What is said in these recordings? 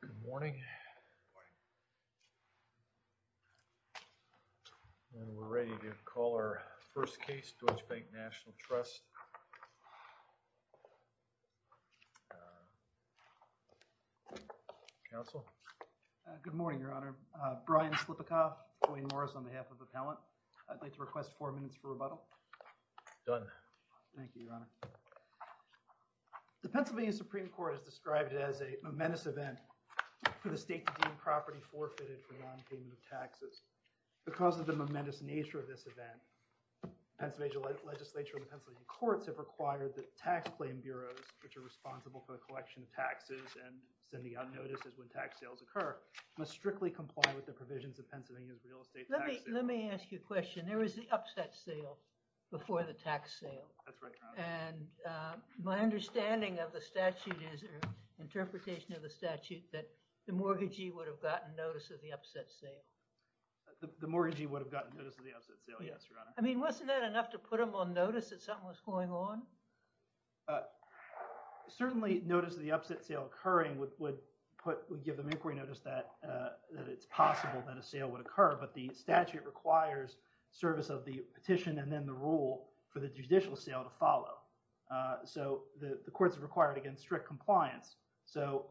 Good morning. We're ready to call our first case, Deutsche Bank National Trust. Counsel. Good morning, Your Honor. Brian Slipikoff, Dwayne Morris on behalf of Appellant. I'd like to request four minutes for rebuttal. Done. Thank you, Your Honor. The Pennsylvania Supreme Court has described it as a momentous event for the state to deem property forfeited for non-payment of taxes. Because of the momentous nature of this event, Pennsylvania legislature and the Pennsylvania courts have required that tax claim bureaus, which are responsible for the collection of taxes and sending out notices when tax sales occur, must strictly comply with the provisions of Pennsylvania's real estate tax system. Let me ask you a question. There was the upset sale before the tax sale. That's right, Your Honor. And my understanding of the statute is, or interpretation of the statute, that the mortgagee would have gotten notice of the upset sale. The mortgagee would have gotten notice of the upset sale, yes, Your Honor. I mean, wasn't that enough to put them on notice that something was going on? Certainly, notice of the upset sale occurring would put – would give them inquiry notice that it's possible that a sale would occur. But the statute requires service of the petition and then the rule for the judicial sale to follow. So the courts have required, again, strict compliance. So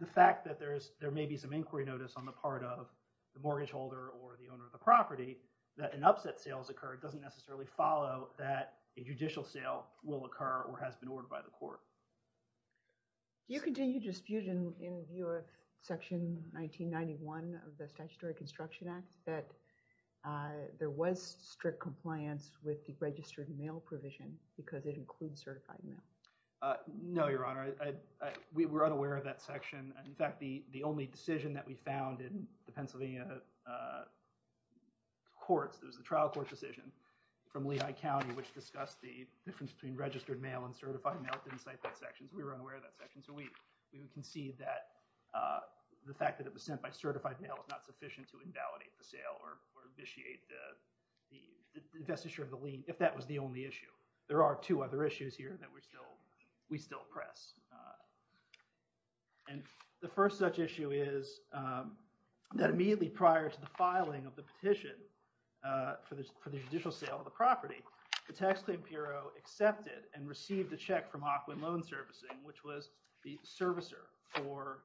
the fact that there may be some inquiry notice on the part of the mortgage holder or the owner of the property that an upset sale has occurred doesn't necessarily follow that a judicial sale will occur or has been ordered by the court. Do you continue to dispute in view of Section 1991 of the Statutory Construction Act that there was strict compliance with the registered mail provision because it includes certified mail? No, Your Honor. We were unaware of that section. In fact, the only decision that we found in the Pennsylvania courts, it was the trial court decision from Lehigh County, which discussed the difference between registered mail and certified mail, didn't cite that section. So we were unaware of that section. So we concede that the fact that it was sent by certified mail is not sufficient to invalidate the sale or vitiate the investiture of the lien if that was the only issue. There are two other issues here that we still press. And the first such issue is that immediately prior to the filing of the petition for the judicial sale of the property, the tax claim bureau accepted and received a check from Hawkwind Loan Servicing, which was the servicer for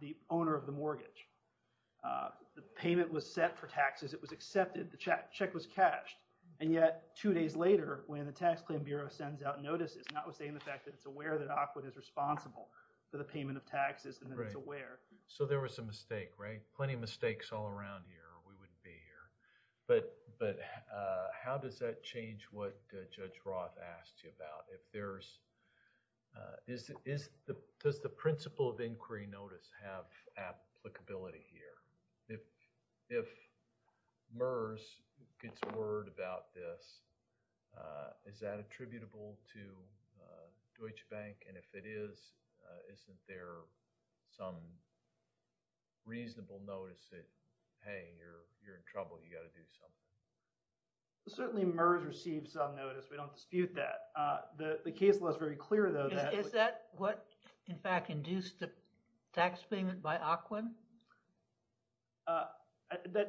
the owner of the mortgage. The payment was set for taxes. It was accepted. The check was cashed. And yet, two days later, when the tax claim bureau sends out notices, notwithstanding the fact that it's aware that Hawkwind is responsible for the payment of taxes and that it's aware. So there was a mistake, right? Plenty of mistakes all around here. We wouldn't be here. But how does that change what Judge Roth asked you about? If there's, does the principle of inquiry notice have applicability here? If MERS gets word about this, is that attributable to Deutsche Bank? And if it is, isn't there some reasonable notice that, hey, you're in trouble, you got to do something? Certainly, MERS received some notice. We don't dispute that. The case was very clear, though. Is that what, in fact, induced the tax payment by Hawkwind?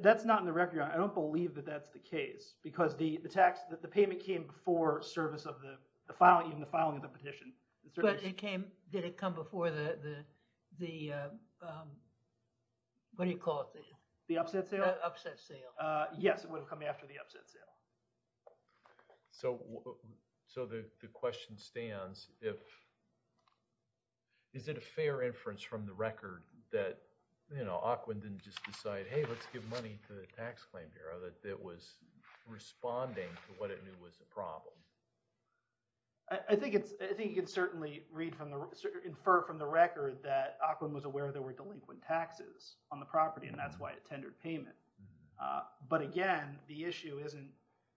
That's not in the record. I don't believe that that's the case. Because the tax, the payment came before service of the filing, even the filing of the petition. But it came, did it come before the, what do you call it? The upset sale? The upset sale. Yes, it would have come after the upset sale. So the question stands, if, is it a fair inference from the record that, you know, Hawkwind didn't just decide, hey, let's give money to the Tax Claim Bureau? That it was responding to what it knew was a problem. I think it's, I think you can certainly read from the, infer from the record that Hawkwind was aware there were delinquent taxes on the property, and that's why it tendered payment. But again, the issue isn't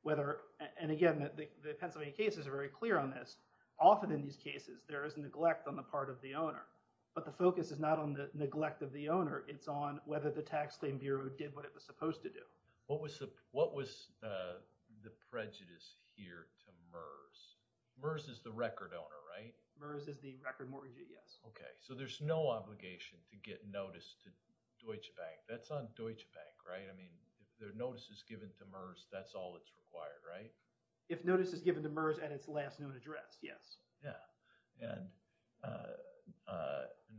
whether, and again, the Pennsylvania cases are very clear on this. Often in these cases, there is neglect on the part of the owner. But the focus is not on the neglect of the owner. It's on whether the Tax Claim Bureau did what it was supposed to do. What was the prejudice here to MERS? MERS is the record owner, right? MERS is the record mortgagee, yes. Okay, so there's no obligation to get notice to Deutsche Bank. That's on Deutsche Bank, right? I mean, if their notice is given to MERS, that's all that's required, right? If notice is given to MERS at its last known address, yes. Yeah. And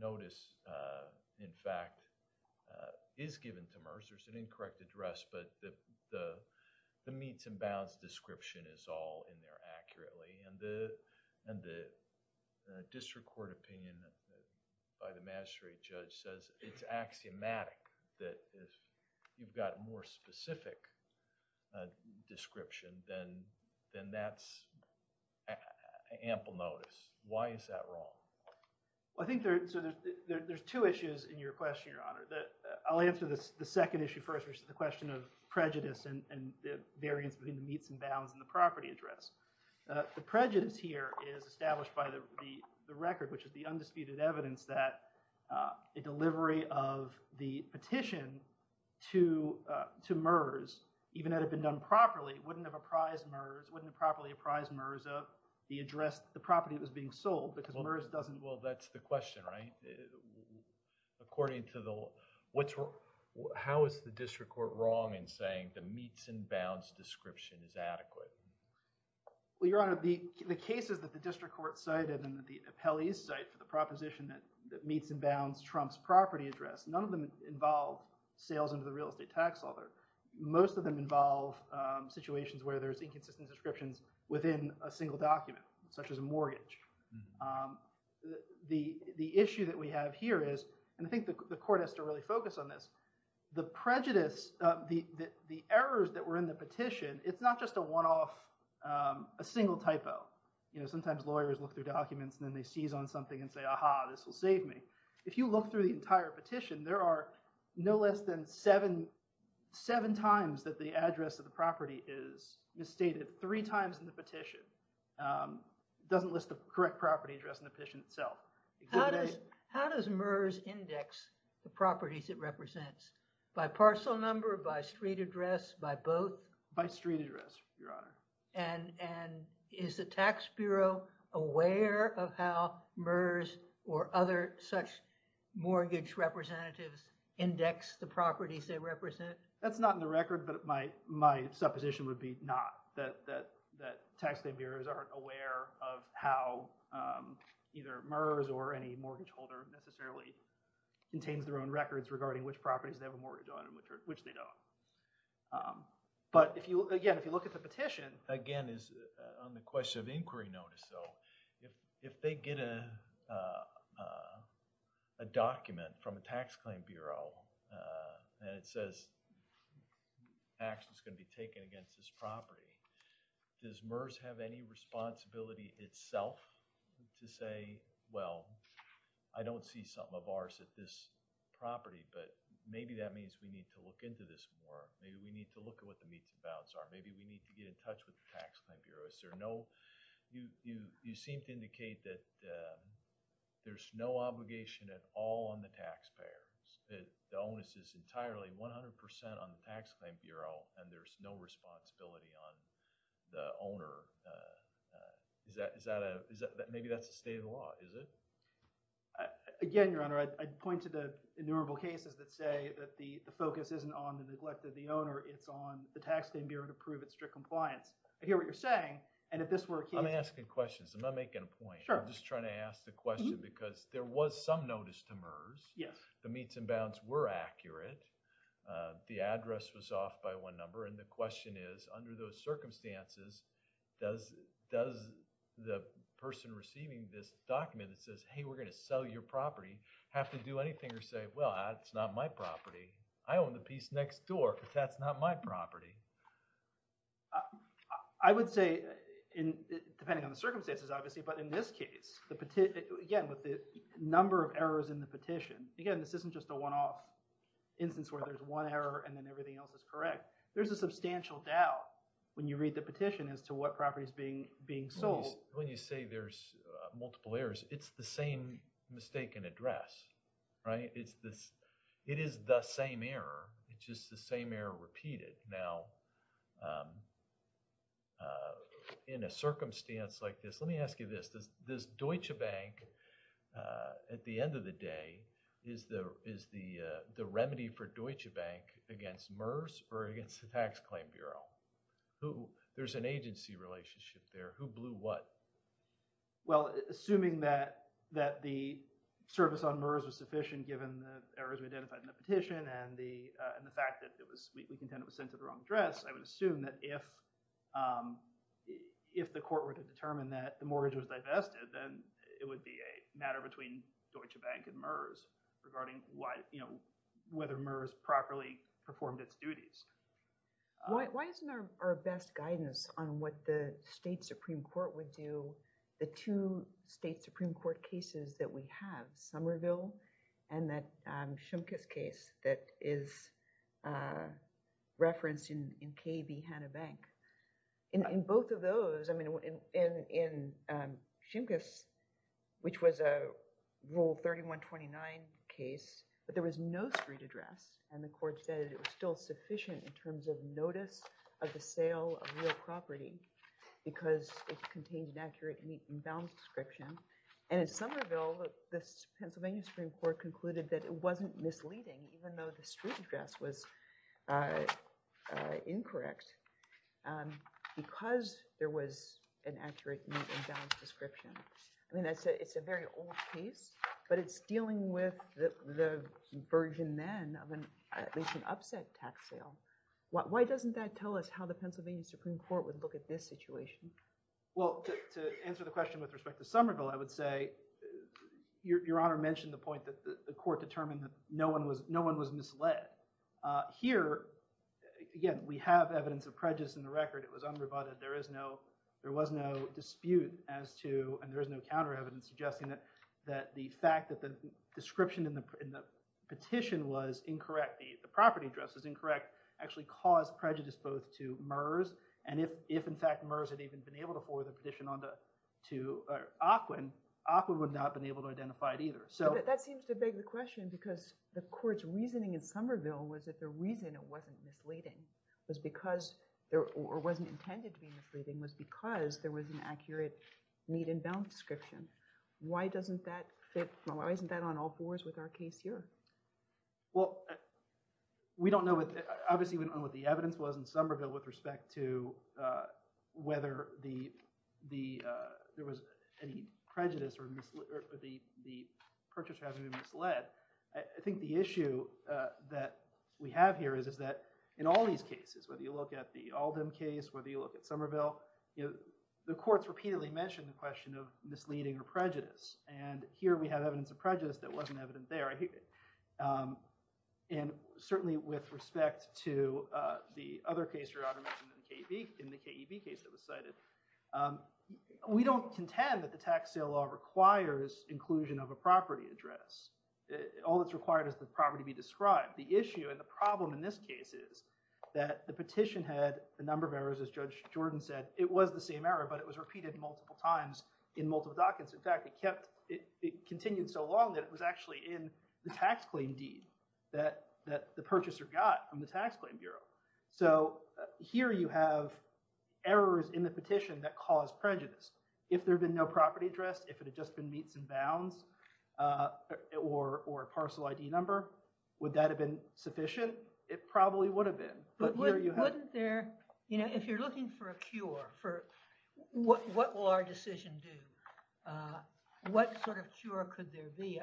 notice, in fact, is given to MERS. There's an incorrect address, but the meets and bounds description is all in there accurately. And the district court opinion by the magistrate judge says it's axiomatic that if you've got a more specific description, then that's ample notice. Why is that wrong? Well, I think there's two issues in your question, Your Honor. I'll answer the second issue first, which is the question of prejudice and the variance between the meets and bounds and the property address. The prejudice here is established by the record, which is the undisputed evidence that a delivery of the petition to MERS, even had it been done properly, wouldn't have apprised MERS, wouldn't have properly apprised MERS of the address, the property that was being sold because MERS doesn't… Well, that's the question, right? According to the… How is the district court wrong in saying the meets and bounds description is adequate? Well, Your Honor, the cases that the district court cited and that the appellees cite for the proposition that meets and bounds trumps property address, none of them involve sales under the real estate tax law there. Most of them involve situations where there's inconsistent descriptions within a single document, such as a mortgage. The issue that we have here is, and I think the court has to really focus on this, the prejudice, the errors that were in the petition, it's not just a one-off, a single typo. Sometimes lawyers look through documents and then they seize on something and say, aha, this will save me. If you look through the entire petition, there are no less than seven times that the address of the property is misstated, three times in the petition. It doesn't list the correct property address in the petition itself. How does MERS index the properties it represents? By parcel number, by street address, by both? By street address, Your Honor. And is the tax bureau aware of how MERS or other such mortgage representatives index the properties they represent? That's not in the record, but my supposition would be not, that tax claim bureaus aren't aware of how either MERS or any mortgage holder necessarily contains their own records regarding which properties they have a mortgage on and which they don't. But again, if you look at the petition… Again, on the question of inquiry notice, if they get a document from a tax claim bureau and it says, tax is going to be taken against this property, does MERS have any responsibility itself to say, well, I don't see something of ours at this property, but maybe that means we need to look into this more. Maybe we need to look at what the meets and bounds are. Maybe we need to get in touch with the tax claim bureau. You seem to indicate that there's no obligation at all on the taxpayers. The onus is entirely 100% on the tax claim bureau and there's no responsibility on the owner. Maybe that's the state of the law, is it? Again, Your Honor, I'd point to the innumerable cases that say that the focus isn't on the neglect of the owner. It's on the tax claim bureau to prove its strict compliance. I hear what you're saying and if this were a case… I'm asking questions. I'm not making a point. I'm just trying to ask the question because there was some notice to MERS. The meets and bounds were accurate. The address was off by one number and the question is, under those circumstances, does the person receiving this document that says, hey, we're going to sell your property, have to do anything or say, well, that's not my property. I own the piece next door because that's not my property. I would say, depending on the circumstances, obviously, but in this case, again, with the number of errors in the petition, again, this isn't just a one-off instance where there's one error and then everything else is correct. There's a substantial doubt when you read the petition as to what property is being sold. When you say there's multiple errors, it's the same mistake in address. It is the same error. It's just the same error repeated. Now, in a circumstance like this, let me ask you this. Does Deutsche Bank, at the end of the day, is the remedy for Deutsche Bank against MERS or against the Tax Claim Bureau? There's an agency relationship there. Who blew what? Well, assuming that the service on MERS was sufficient given the errors we identified in the petition and the fact that we contend it was sent to the wrong address, I would assume that if the court were to determine that the mortgage was divested, then it would be a matter between Deutsche Bank and MERS regarding whether MERS properly performed its duties. Why isn't there our best guidance on what the state supreme court would do? The two state supreme court cases that we have, Somerville and that Shimkus case that is referenced in KB Hanna Bank, in both of those, I mean, in Shimkus, which was a Rule 3129 case, but there was no street address, and the court said it was still sufficient in terms of notice of the sale of real property because it contained an accurate and even balanced description. And in Somerville, the Pennsylvania Supreme Court concluded that it wasn't misleading even though the street address was incorrect because there was an accurate and balanced description. I mean, it's a very old case, but it's dealing with the version then of at least an upset tax sale. Why doesn't that tell us how the Pennsylvania Supreme Court would look at this situation? Well, to answer the question with respect to Somerville, I would say Your Honor mentioned the point that the court determined that no one was misled. Here, again, we have evidence of prejudice in the record. It was unrebutted. There was no dispute as to, and there is no counter evidence suggesting that the fact that the description in the petition was incorrect, the property address was incorrect, actually caused prejudice both to MERS, and if, in fact, MERS had even been able to forward the petition to AQUIN, AQUIN would not have been able to identify it either. But that seems to beg the question because the court's reasoning in Somerville was that the reason it wasn't misleading or wasn't intended to be misleading was because there was an accurate, neat and balanced description. Why doesn't that fit? Why isn't that on all fours with our case here? Well, we don't know. Obviously, we don't know what the evidence was in Somerville with respect to whether there was any prejudice or the purchase hasn't been misled. I think the issue that we have here is that in all these cases, whether you look at the Alden case, whether you look at Somerville, the courts repeatedly mention the question of misleading or prejudice. And here we have evidence of prejudice that wasn't evident there. And certainly with respect to the other case Your Honor mentioned in the KEB case that was cited, we don't contend that the tax sale law requires inclusion of a property address. All that's required is the property be described. The issue and the problem in this case is that the petition had a number of errors. As Judge Jordan said, it was the same error, but it was repeated multiple times in multiple dockets. In fact, it continued so long that it was actually in the tax claim deed that the purchaser got from the tax claim bureau. So here you have errors in the petition that cause prejudice. If there had been no property address, if it had just been meets and bounds or a parcel ID number, would that have been sufficient? It probably would have been. But wouldn't there, you know, if you're looking for a cure, what will our decision do? What sort of cure could there be?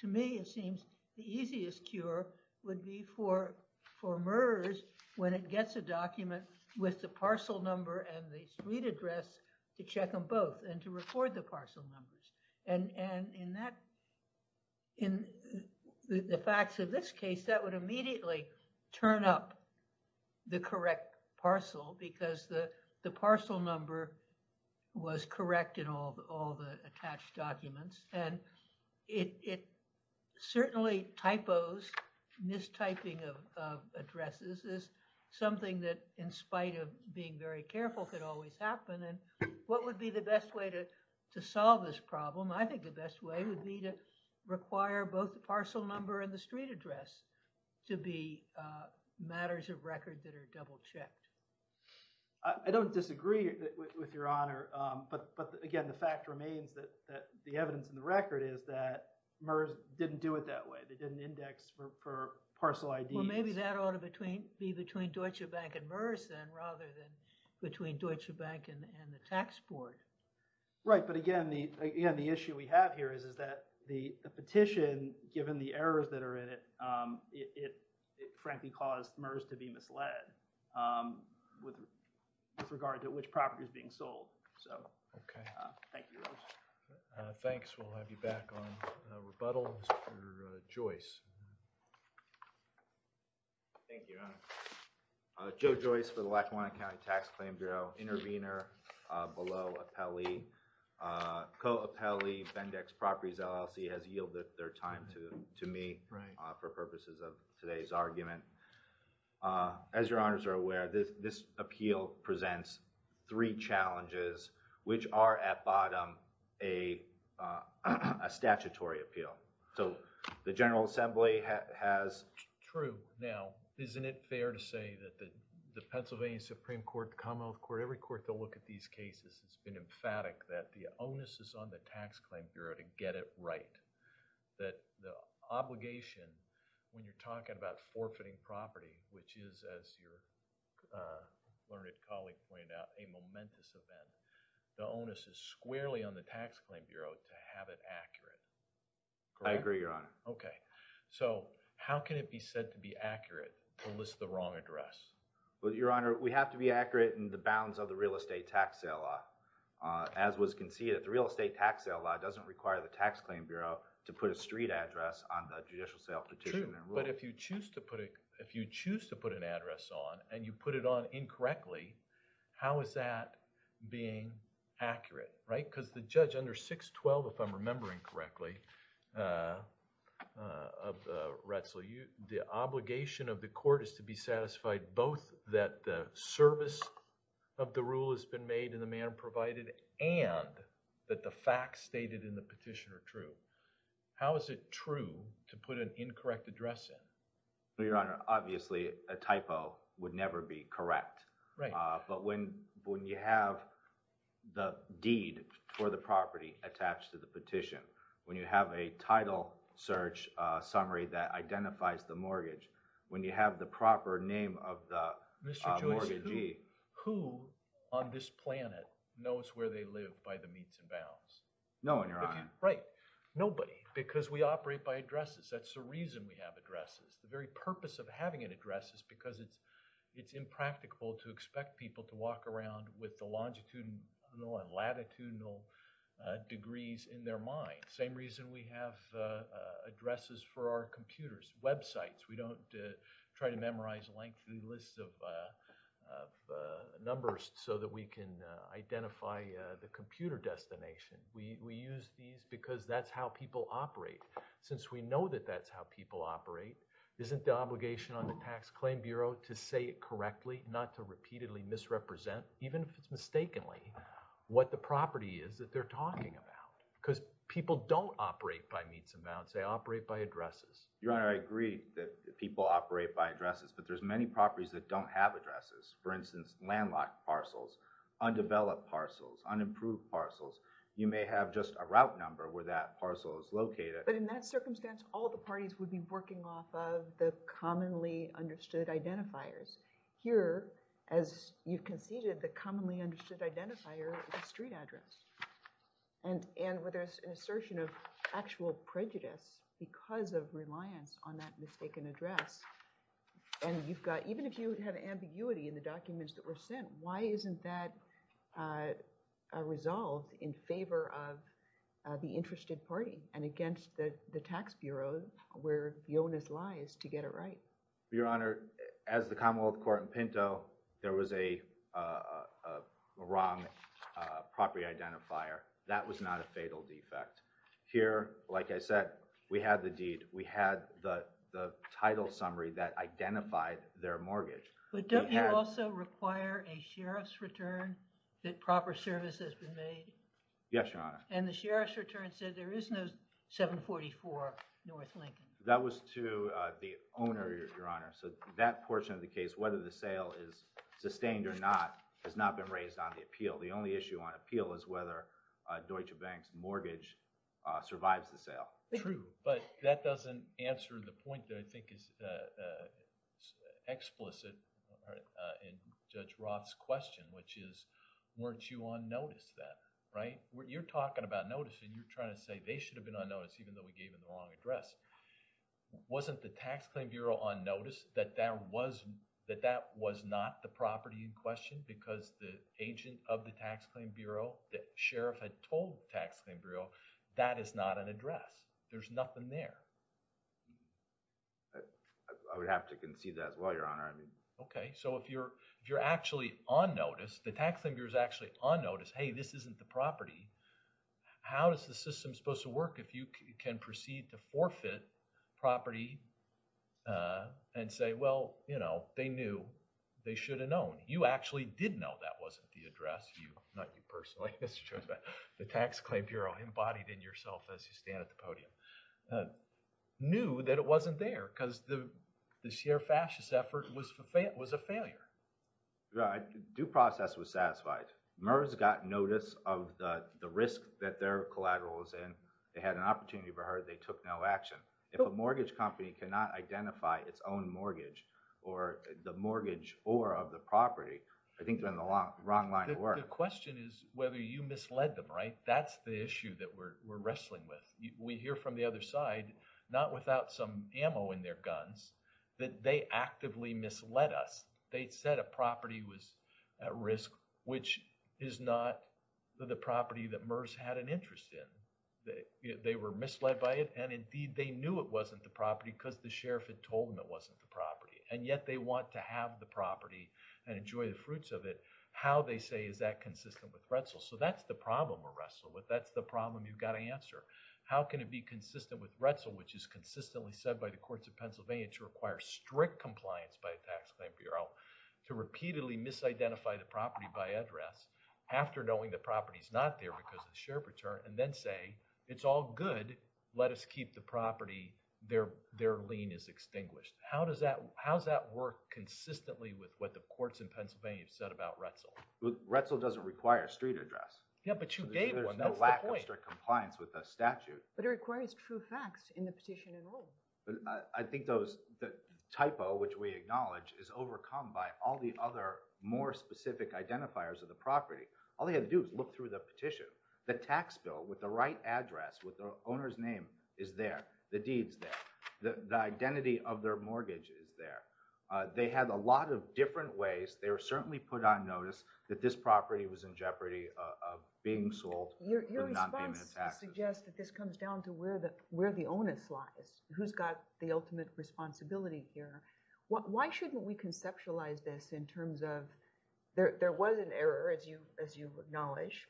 To me, it seems the easiest cure would be for for murderers when it gets a document with the parcel number and the street address to check them both and to record the parcel numbers. And in that, in the facts of this case, that would immediately turn up the correct parcel because the parcel number was correct in all the attached documents. And it certainly typos, mistyping of addresses is something that in spite of being very careful could always happen. And what would be the best way to solve this problem? I think the best way would be to require both the parcel number and the street address to be matters of record that are double checked. I don't disagree with your honor. But again, the fact remains that the evidence in the record is that MERS didn't do it that way. They didn't index for parcel IDs. Maybe that ought to be between Deutsche Bank and MERS rather than between Deutsche Bank and the tax board. Right. But again, the issue we have here is that the petition, given the errors that are in it, it frankly caused MERS to be misled with regard to which property is being sold. So, thank you. Thanks. We'll have you back on rebuttal. Mr. Joyce. Thank you, your honor. Joe Joyce for the Lackawanna County Tax Claim Bureau. Intervener below appellee. Co-appellee, Bendex Properties LLC has yielded their time to me for purposes of today's argument. As your honors are aware, this appeal presents three challenges which are at bottom a statutory appeal. So, the General Assembly has... True. Now, isn't it fair to say that the Pennsylvania Supreme Court, Commonwealth Court, every court to look at these cases has been emphatic that the onus is on the Tax Claim Bureau to get it right. That the obligation, when you're talking about forfeiting property, which is, as your learned colleague pointed out, a momentous event, the onus is squarely on the Tax Claim Bureau to have it accurate. I agree, your honor. Okay. So, how can it be said to be accurate unless the wrong address? Well, your honor, we have to be accurate in the bounds of the real estate tax sale law. As was conceded, the real estate tax sale law doesn't require the Tax Claim Bureau to put a street address on the judicial sale petition. True, but if you choose to put it... if you choose to put an address on and you put it on incorrectly, how is that being accurate, right? Because the judge under 612, if I'm remembering correctly, Retzel, the obligation of the court is to be satisfied both that the service of the rule has been made in the manner provided and that the facts stated in the petition are true. How is it true to put an incorrect address in? Well, your honor, obviously a typo would never be correct. But when you have the deed for the property attached to the petition, when you have a title search summary that identifies the mortgage, when you have the proper name of the mortgagee... No, your honor. Right. Nobody, because we operate by addresses. That's the reason we have addresses. The very purpose of having an address is because it's impractical to expect people to walk around with the longitudinal and latitudinal degrees in their mind. Same reason we have addresses for our computers, websites. We don't try to memorize lengthy lists of numbers so that we can identify the computer destination. We use these because that's how people operate. Since we know that that's how people operate, isn't the obligation on the Tax Claim Bureau to say it correctly, not to repeatedly misrepresent, even if it's mistakenly, what the property is that they're talking about? Because people don't operate by meets and bounds. They operate by addresses. Your honor, I agree that people operate by addresses, but there's many properties that don't have addresses. For instance, landlocked parcels, undeveloped parcels, unimproved parcels. You may have just a route number where that parcel is located. But in that circumstance, all the parties would be working off of the commonly understood identifiers. Here, as you conceded, the commonly understood identifier is a street address. And where there's an assertion of actual prejudice because of reliance on that mistaken address. And even if you have ambiguity in the documents that were sent, why isn't that resolved in favor of the interested party and against the tax bureaus where the onus lies to get it right? Your honor, as the Commonwealth Court in Pinto, there was a wrong property identifier. That was not a fatal defect. Here, like I said, we had the deed. We had the title summary that identified their mortgage. But don't you also require a sheriff's return that proper service has been made? Yes, your honor. And the sheriff's return said there is no 744 North Lincoln. That was to the owner, your honor. So that portion of the case, whether the sale is sustained or not, has not been raised on the appeal. The only issue on appeal is whether Deutsche Bank's mortgage survives the sale. True. But that doesn't answer the point that I think is explicit in Judge Roth's question, which is weren't you on notice then, right? You're talking about notice and you're trying to say they should have been on notice even though we gave them the wrong address. Wasn't the tax claim bureau on notice that that was, that that was not the property in question because the agent of the tax claim bureau, the sheriff had told the tax claim bureau that is not an address. There's nothing there. I would have to concede that as well, your honor. OK. So if you're actually on notice, the tax claim bureau is actually on notice, hey, this isn't the property, how is the system supposed to work if you can proceed to forfeit property and say, well, you know, they knew, they should have known. You actually did know that wasn't the address. You, not you personally, the tax claim bureau embodied in yourself as you stand at the podium, knew that it wasn't there because the sheer fascist effort was a failure. Right. Due process was satisfied. MERS got notice of the risk that their collateral was in. They had an opportunity, but they took no action. If a mortgage company cannot identify its own mortgage or the mortgage or of the property, I think they're on the wrong line of work. The question is whether you misled them, right? That's the issue that we're wrestling with. We hear from the other side, not without some ammo in their guns, that they actively misled us. They said a property was at risk, which is not the property that MERS had an interest in. They were misled by it, and indeed, they knew it wasn't the property because the sheriff had told them it wasn't the property. And yet they want to have the property and enjoy the fruits of it. How, they say, is that consistent with Retzel? So that's the problem we're wrestling with. That's the problem you've got to answer. How can it be consistent with Retzel, which is consistently said by the courts of Pennsylvania to require strict compliance by a tax claim bureau to repeatedly misidentify the property by address after knowing the property is not there because of the sheriff return and then say, it's all good. Let us keep the property. Their lien is extinguished. How does that work consistently with what the courts in Pennsylvania have said about Retzel? Retzel doesn't require a street address. Yeah, but you gave one. That's the point. There's no lack of strict compliance with the statute. But it requires true facts in the petition and rule. I think the typo, which we acknowledge, is overcome by all the other more specific identifiers of the property. All they have to do is look through the petition. The tax bill with the right address, with the owner's name, is there. The deed's there. The identity of their mortgage is there. They had a lot of different ways. They were certainly put on notice that this property was in jeopardy of being sold for non-payment of taxes. Your response suggests that this comes down to where the onus lies. Who's got the ultimate responsibility here? Why shouldn't we conceptualize this in terms of there was an error, as you acknowledge,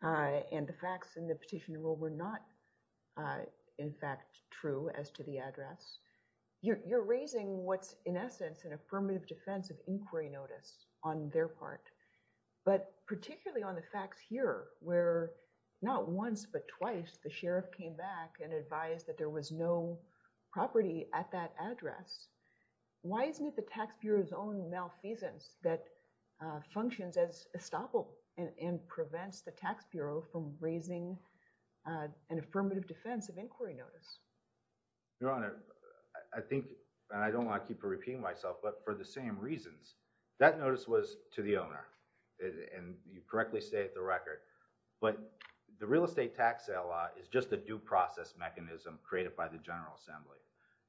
and the facts in the petition rule were not, in fact, true as to the address. You're raising what's, in essence, an affirmative defense of inquiry notice on their part. But particularly on the facts here, where not once but twice, the sheriff came back and advised that there was no property at that address. Why isn't it the tax bureau's own malfeasance that functions as estoppel and prevents the tax bureau from raising an affirmative defense of inquiry notice? Your Honor, I think, and I don't want to keep repeating myself, but for the same reasons, that notice was to the owner. And you correctly state the record. But the real estate tax sale law is just a due process mechanism created by the General Assembly.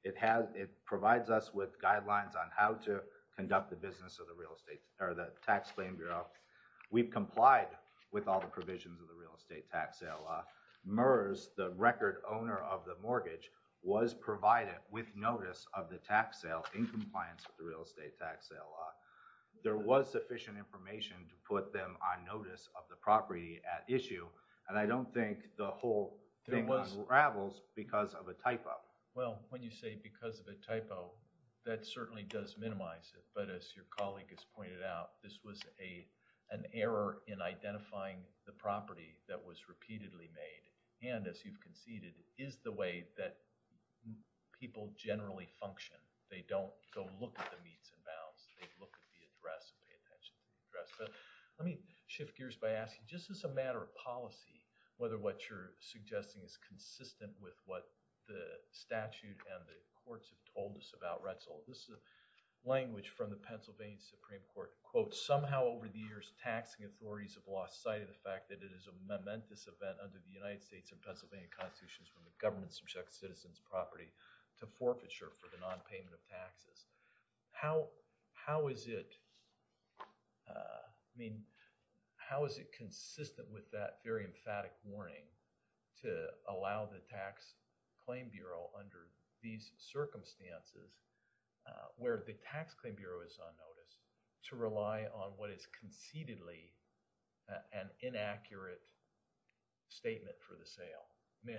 It provides us with guidelines on how to conduct the business of the tax claim bureau. We've complied with all the provisions of the real estate tax sale law. MERS, the record owner of the mortgage, was provided with notice of the tax sale in compliance with the real estate tax sale law. There was sufficient information to put them on notice of the property at issue. And I don't think the whole thing unravels because of a typo. Well, when you say because of a typo, that certainly does minimize it. But as your colleague has pointed out, this was an error in identifying the property that was repeatedly made and, as you've conceded, is the way that people generally function. They don't go look at the meets and bounds. They look at the address and pay attention to the address. Let me shift gears by asking, just as a matter of policy, whether what you're suggesting is consistent with what the statute and the courts have told us about Retzel. This is a language from the Pennsylvania Supreme Court. Quote, somehow over the years, taxing authorities have lost sight of the fact that it is a momentous event under the United States and Pennsylvania constitutions when the government subjects citizens' property to forfeiture for the nonpayment of taxes. How is it, I mean, how is it consistent with that very emphatic warning to allow the Tax Claim Bureau under these circumstances, where the Tax Claim Bureau is on notice, to rely on what is concededly an inaccurate statement for the sale? I mean,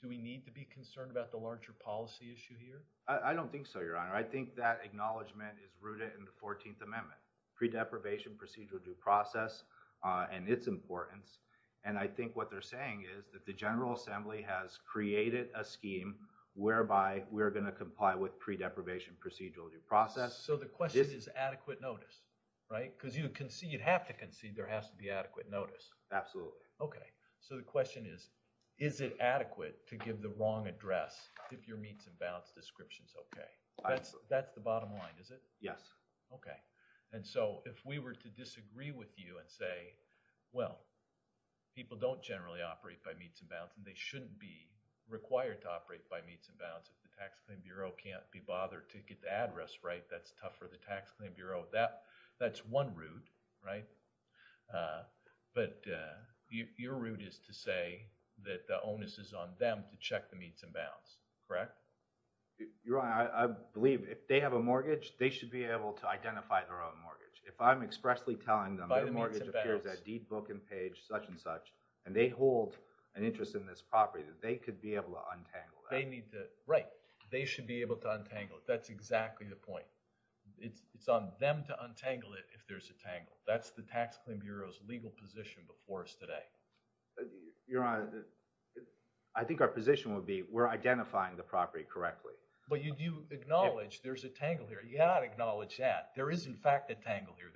do we need to be concerned about the larger policy issue here? I don't think so, Your Honor. I think that acknowledgment is rooted in the 14th Amendment, pre-deprivation procedural due process and its importance. And I think what they're saying is that the General Assembly has created a scheme whereby we're going to comply with pre-deprivation procedural due process. So the question is adequate notice, right? Because you'd have to concede there has to be adequate notice. Absolutely. Okay. So the question is, is it adequate to give the wrong address if your meets and bounds description is okay? That's the bottom line, is it? Yes. Okay. And so if we were to disagree with you and say, well, people don't generally operate by meets and bounds and they shouldn't be required to operate by meets and bounds if the Tax Claim Bureau can't be bothered to get the address right, that's tough for the Tax Claim Bureau. That's one route, right? But your route is to say that the onus is on them to check the meets and bounds, correct? Your Honor, I believe if they have a mortgage, they should be able to identify their own mortgage. If I'm expressly telling them their mortgage appears at deed, book, and page, such and such, and they hold an interest in this property, they could be able to untangle that. Right. They should be able to untangle it. That's exactly the point. It's on them to untangle it if there's a tangle. That's the Tax Claim Bureau's legal position before us today. Your Honor, I think our position would be we're identifying the property correctly. But you acknowledge there's a tangle here. You cannot acknowledge that. There is, in fact, a tangle here.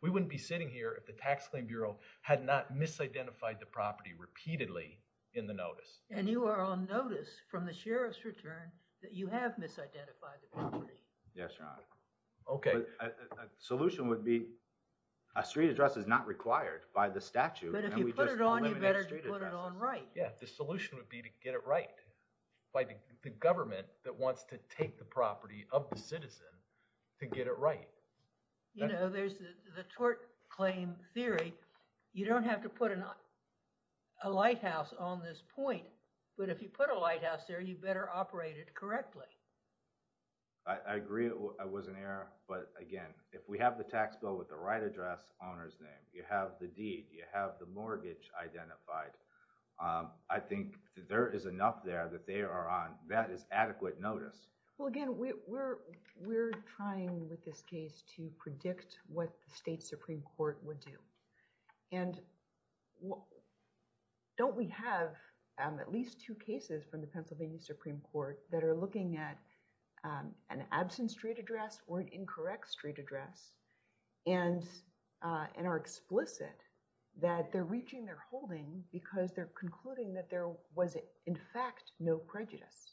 We wouldn't be sitting here if the Tax Claim Bureau had not misidentified the property repeatedly in the notice. And you are on notice from the Sheriff's return that you have misidentified the property. Yes, Your Honor. OK. A solution would be a street address is not required by the statute. But if you put it on, you better put it on right. Yeah, the solution would be to get it right. By the government that wants to take the property of the citizen to get it right. You know, there's the tort claim theory. You don't have to put a lighthouse on this point. But if you put a lighthouse there, you better operate it correctly. I agree it was an error. But again, if we have the tax bill with the right address owner's name, you have the deed, you have the mortgage identified, I think there is enough there that they are on, that is adequate notice. Well, again, we're trying with this case to predict what the State Supreme Court would do. And don't we have at least two cases from the Pennsylvania Supreme Court that are looking at an absent street address or an incorrect street address and are explicit that they're reaching their holding because they're concluding that there was in fact no prejudice.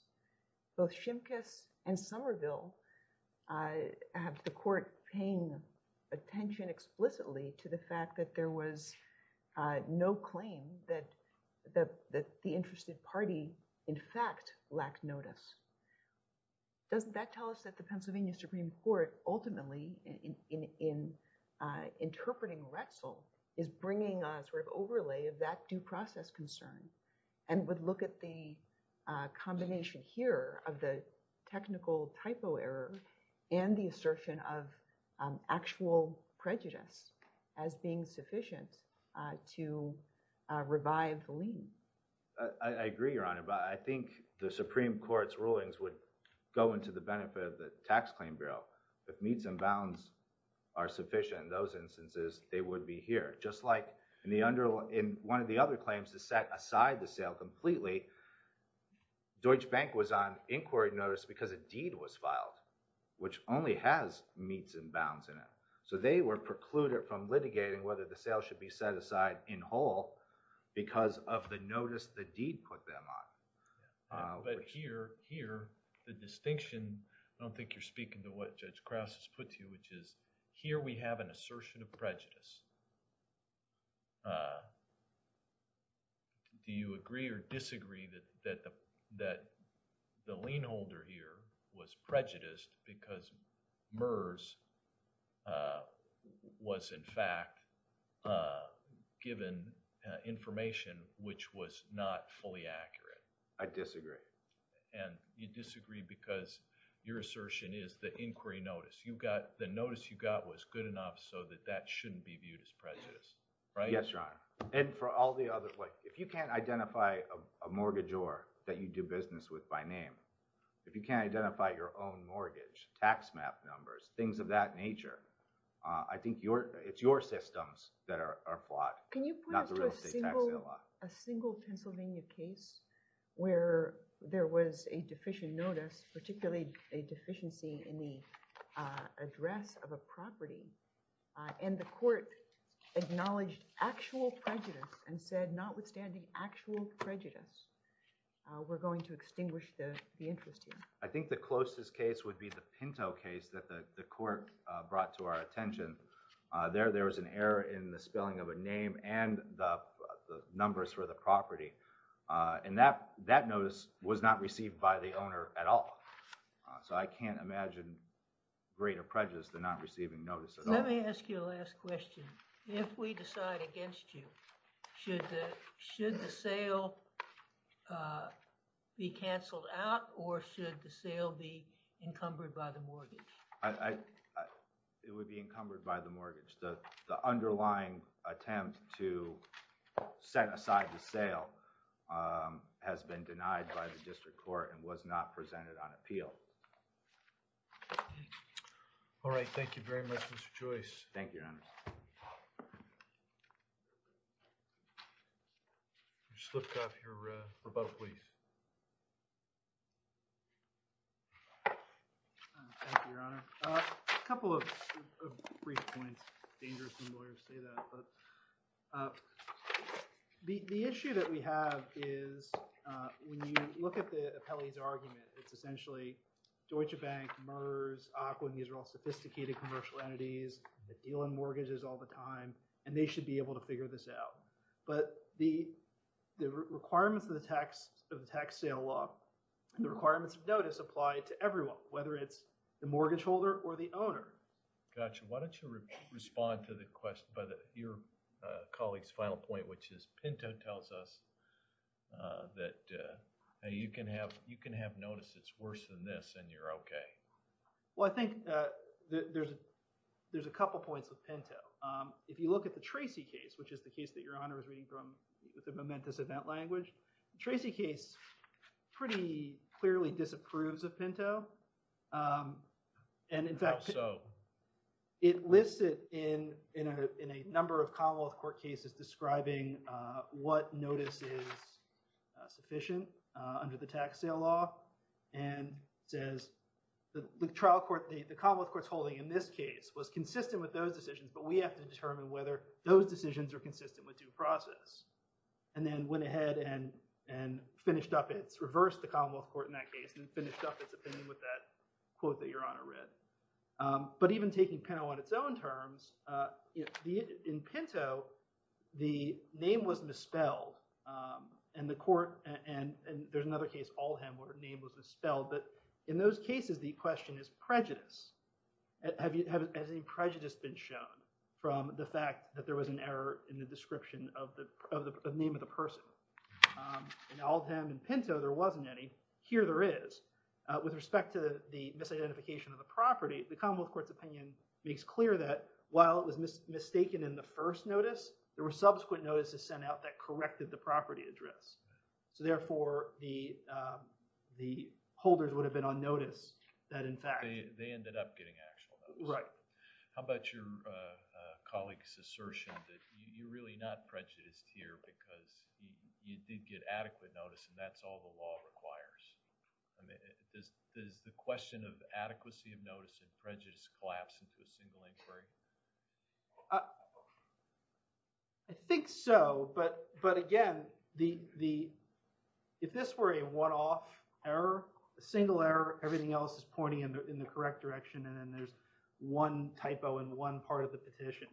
Both Shimkus and Somerville have the court paying attention explicitly to the fact that there was no claim that the interested party in fact lacked notice. Doesn't that tell us that the Pennsylvania Supreme Court ultimately in interpreting Rexel is bringing a sort of overlay of that due process concern and would look at the combination here of the technical typo error and the assertion of actual prejudice as being sufficient to revive the lien? I agree, Your Honor, but I think the Supreme Court's rulings would go into the benefit of the Tax Claim Bureau. If meets and bounds are sufficient in those instances, they would be here. Just like in one of the other claims to set aside the sale completely, Deutsche Bank was on inquiry notice because a deed was filed, which only has meets and bounds in it. So they were precluded from litigating whether the sale should be set aside in whole because of the notice the deed put them on. But here, the distinction, I don't think you're speaking to what Judge Krauss has put to you, which is here we have an assertion of prejudice. Do you agree or disagree that the lien holder here was prejudiced because MERS was, in fact, given information which was not fully accurate? I disagree. And you disagree because your assertion is the inquiry notice. The notice you got was good enough so that that shouldn't be viewed as prejudice, right? Yes, Your Honor. And for all the other – if you can't identify a mortgagor that you do business with by name, if you can't identify your own mortgage, tax map numbers, things of that nature, I think it's your systems that are flawed, not the real estate tax law. Can you put us to a single Pennsylvania case where there was a deficient notice, particularly a deficiency in the address of a property, and the court acknowledged actual prejudice and said, notwithstanding actual prejudice, we're going to extinguish the interest here? I think the closest case would be the Pinto case that the court brought to our attention. There was an error in the spelling of a name and the numbers for the property, and that notice was not received by the owner at all. So I can't imagine greater prejudice than not receiving notice at all. Let me ask you a last question. If we decide against you, should the sale be canceled out or should the sale be encumbered by the mortgage? It would be encumbered by the mortgage. The underlying attempt to set aside the sale has been denied by the district court and was not presented on appeal. All right. Thank you very much, Mr. Joyce. Thank you, Your Honor. You slipped off your rebuttal, please. Thank you, Your Honor. A couple of brief points. Dangerous when lawyers say that. The issue that we have is when you look at the appellee's argument, it's essentially Deutsche Bank, MERS, AQUA, and these are all sophisticated commercial entities that deal in mortgages all the time, and they should be able to figure this out. But the requirements of the tax sale law, the requirements of notice apply to everyone, whether it's the mortgage holder or the owner. Gotcha. Why don't you respond to the question by your colleague's final point, which is Pinto tells us that you can have notice, it's worse than this, and you're okay. Well, I think there's a couple points with Pinto. If you look at the Tracy case, which is the case that Your Honor is reading from the momentous event language, the Tracy case pretty clearly disapproves of Pinto. How so? It lists it in a number of Commonwealth court cases describing what notice is sufficient under the tax sale law and says the trial court, the Commonwealth court's holding in this case was consistent with those decisions, but we have to determine whether those decisions are consistent with due process. And then went ahead and finished up its, reversed the Commonwealth court in that case and finished up its opinion with that quote that Your Honor read. But even taking Pinto on its own terms, in Pinto, the name was misspelled and the court, and there's another case, Aldheim where the name was misspelled, but in those cases, the question is prejudice. Has any prejudice been shown from the fact that there was an error in the description of the name of the person? In Aldheim and Pinto, there wasn't any. Here there is. With respect to the misidentification of the property, the Commonwealth court's opinion makes clear that while it was mistaken in the first notice, there were subsequent notices sent out that corrected the property address. So therefore the, the holders would have been on notice that in fact. They ended up getting actual notice. Right. How about your colleague's assertion that you're really not prejudiced here because you did get adequate notice and that's all the law requires. Does the question of adequacy of notice and prejudice collapse into a single inquiry? I think so. But, but again, the, the, if this were a one-off error, a single error, everything else is pointing in the correct direction. And then there's one typo in one part of the petition.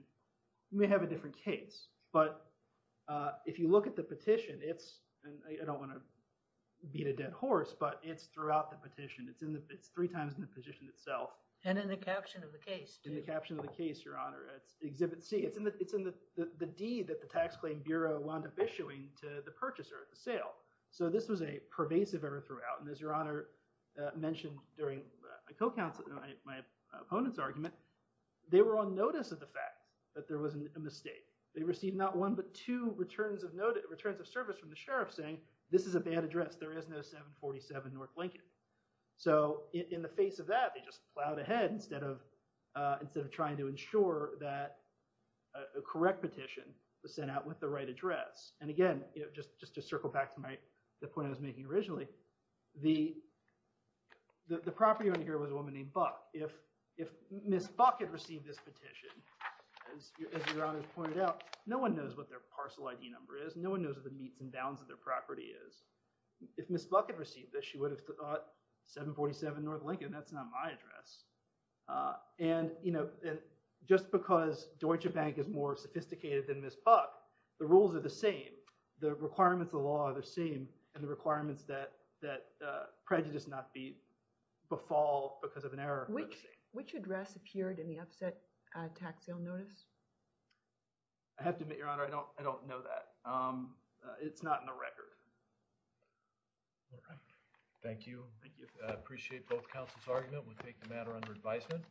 You may have a different case, but if you look at the petition, it's, and I don't want to beat a dead horse, but it's throughout the petition. It's in the, it's three times in the position itself. And in the caption of the case. In the caption of the case, your honor, it's exhibit C it's in the, it's in the, the D that the tax claim Bureau wound up issuing to the purchaser at the sale. So this was a pervasive error throughout. And as your honor mentioned during my co-counsel, my opponent's argument, they were on notice of the fact that there wasn't a mistake. They received not one, but two returns of note returns of service from the sheriff saying this is a bad address. There is no seven 47 North Lincoln. So in the face of that, they just plowed ahead instead of, instead of trying to ensure that a correct petition was sent out with the right address. And again, just to circle back to my, the point I was making originally, the, the property owner here was a woman named Buck. If, if Ms. Buck had received this petition, as your honor pointed out, no one knows what their parcel ID number is. No one knows what the meats and bounds of their property is. If Ms. Buck had received this, she would have thought seven 47 North Lincoln. That's not my address. And, you know, just because Deutsche bank is more sophisticated than Ms. Buck, the rules are the same. The requirements of the law are the same. And the requirements that, that prejudice not be befall because of an error. Which, which address appeared in the upset tax sale notice. I have to admit your honor. I don't, I don't know that it's not in the record. Thank you. Thank you. Appreciate both councils argument. We'll take the matter under advisement.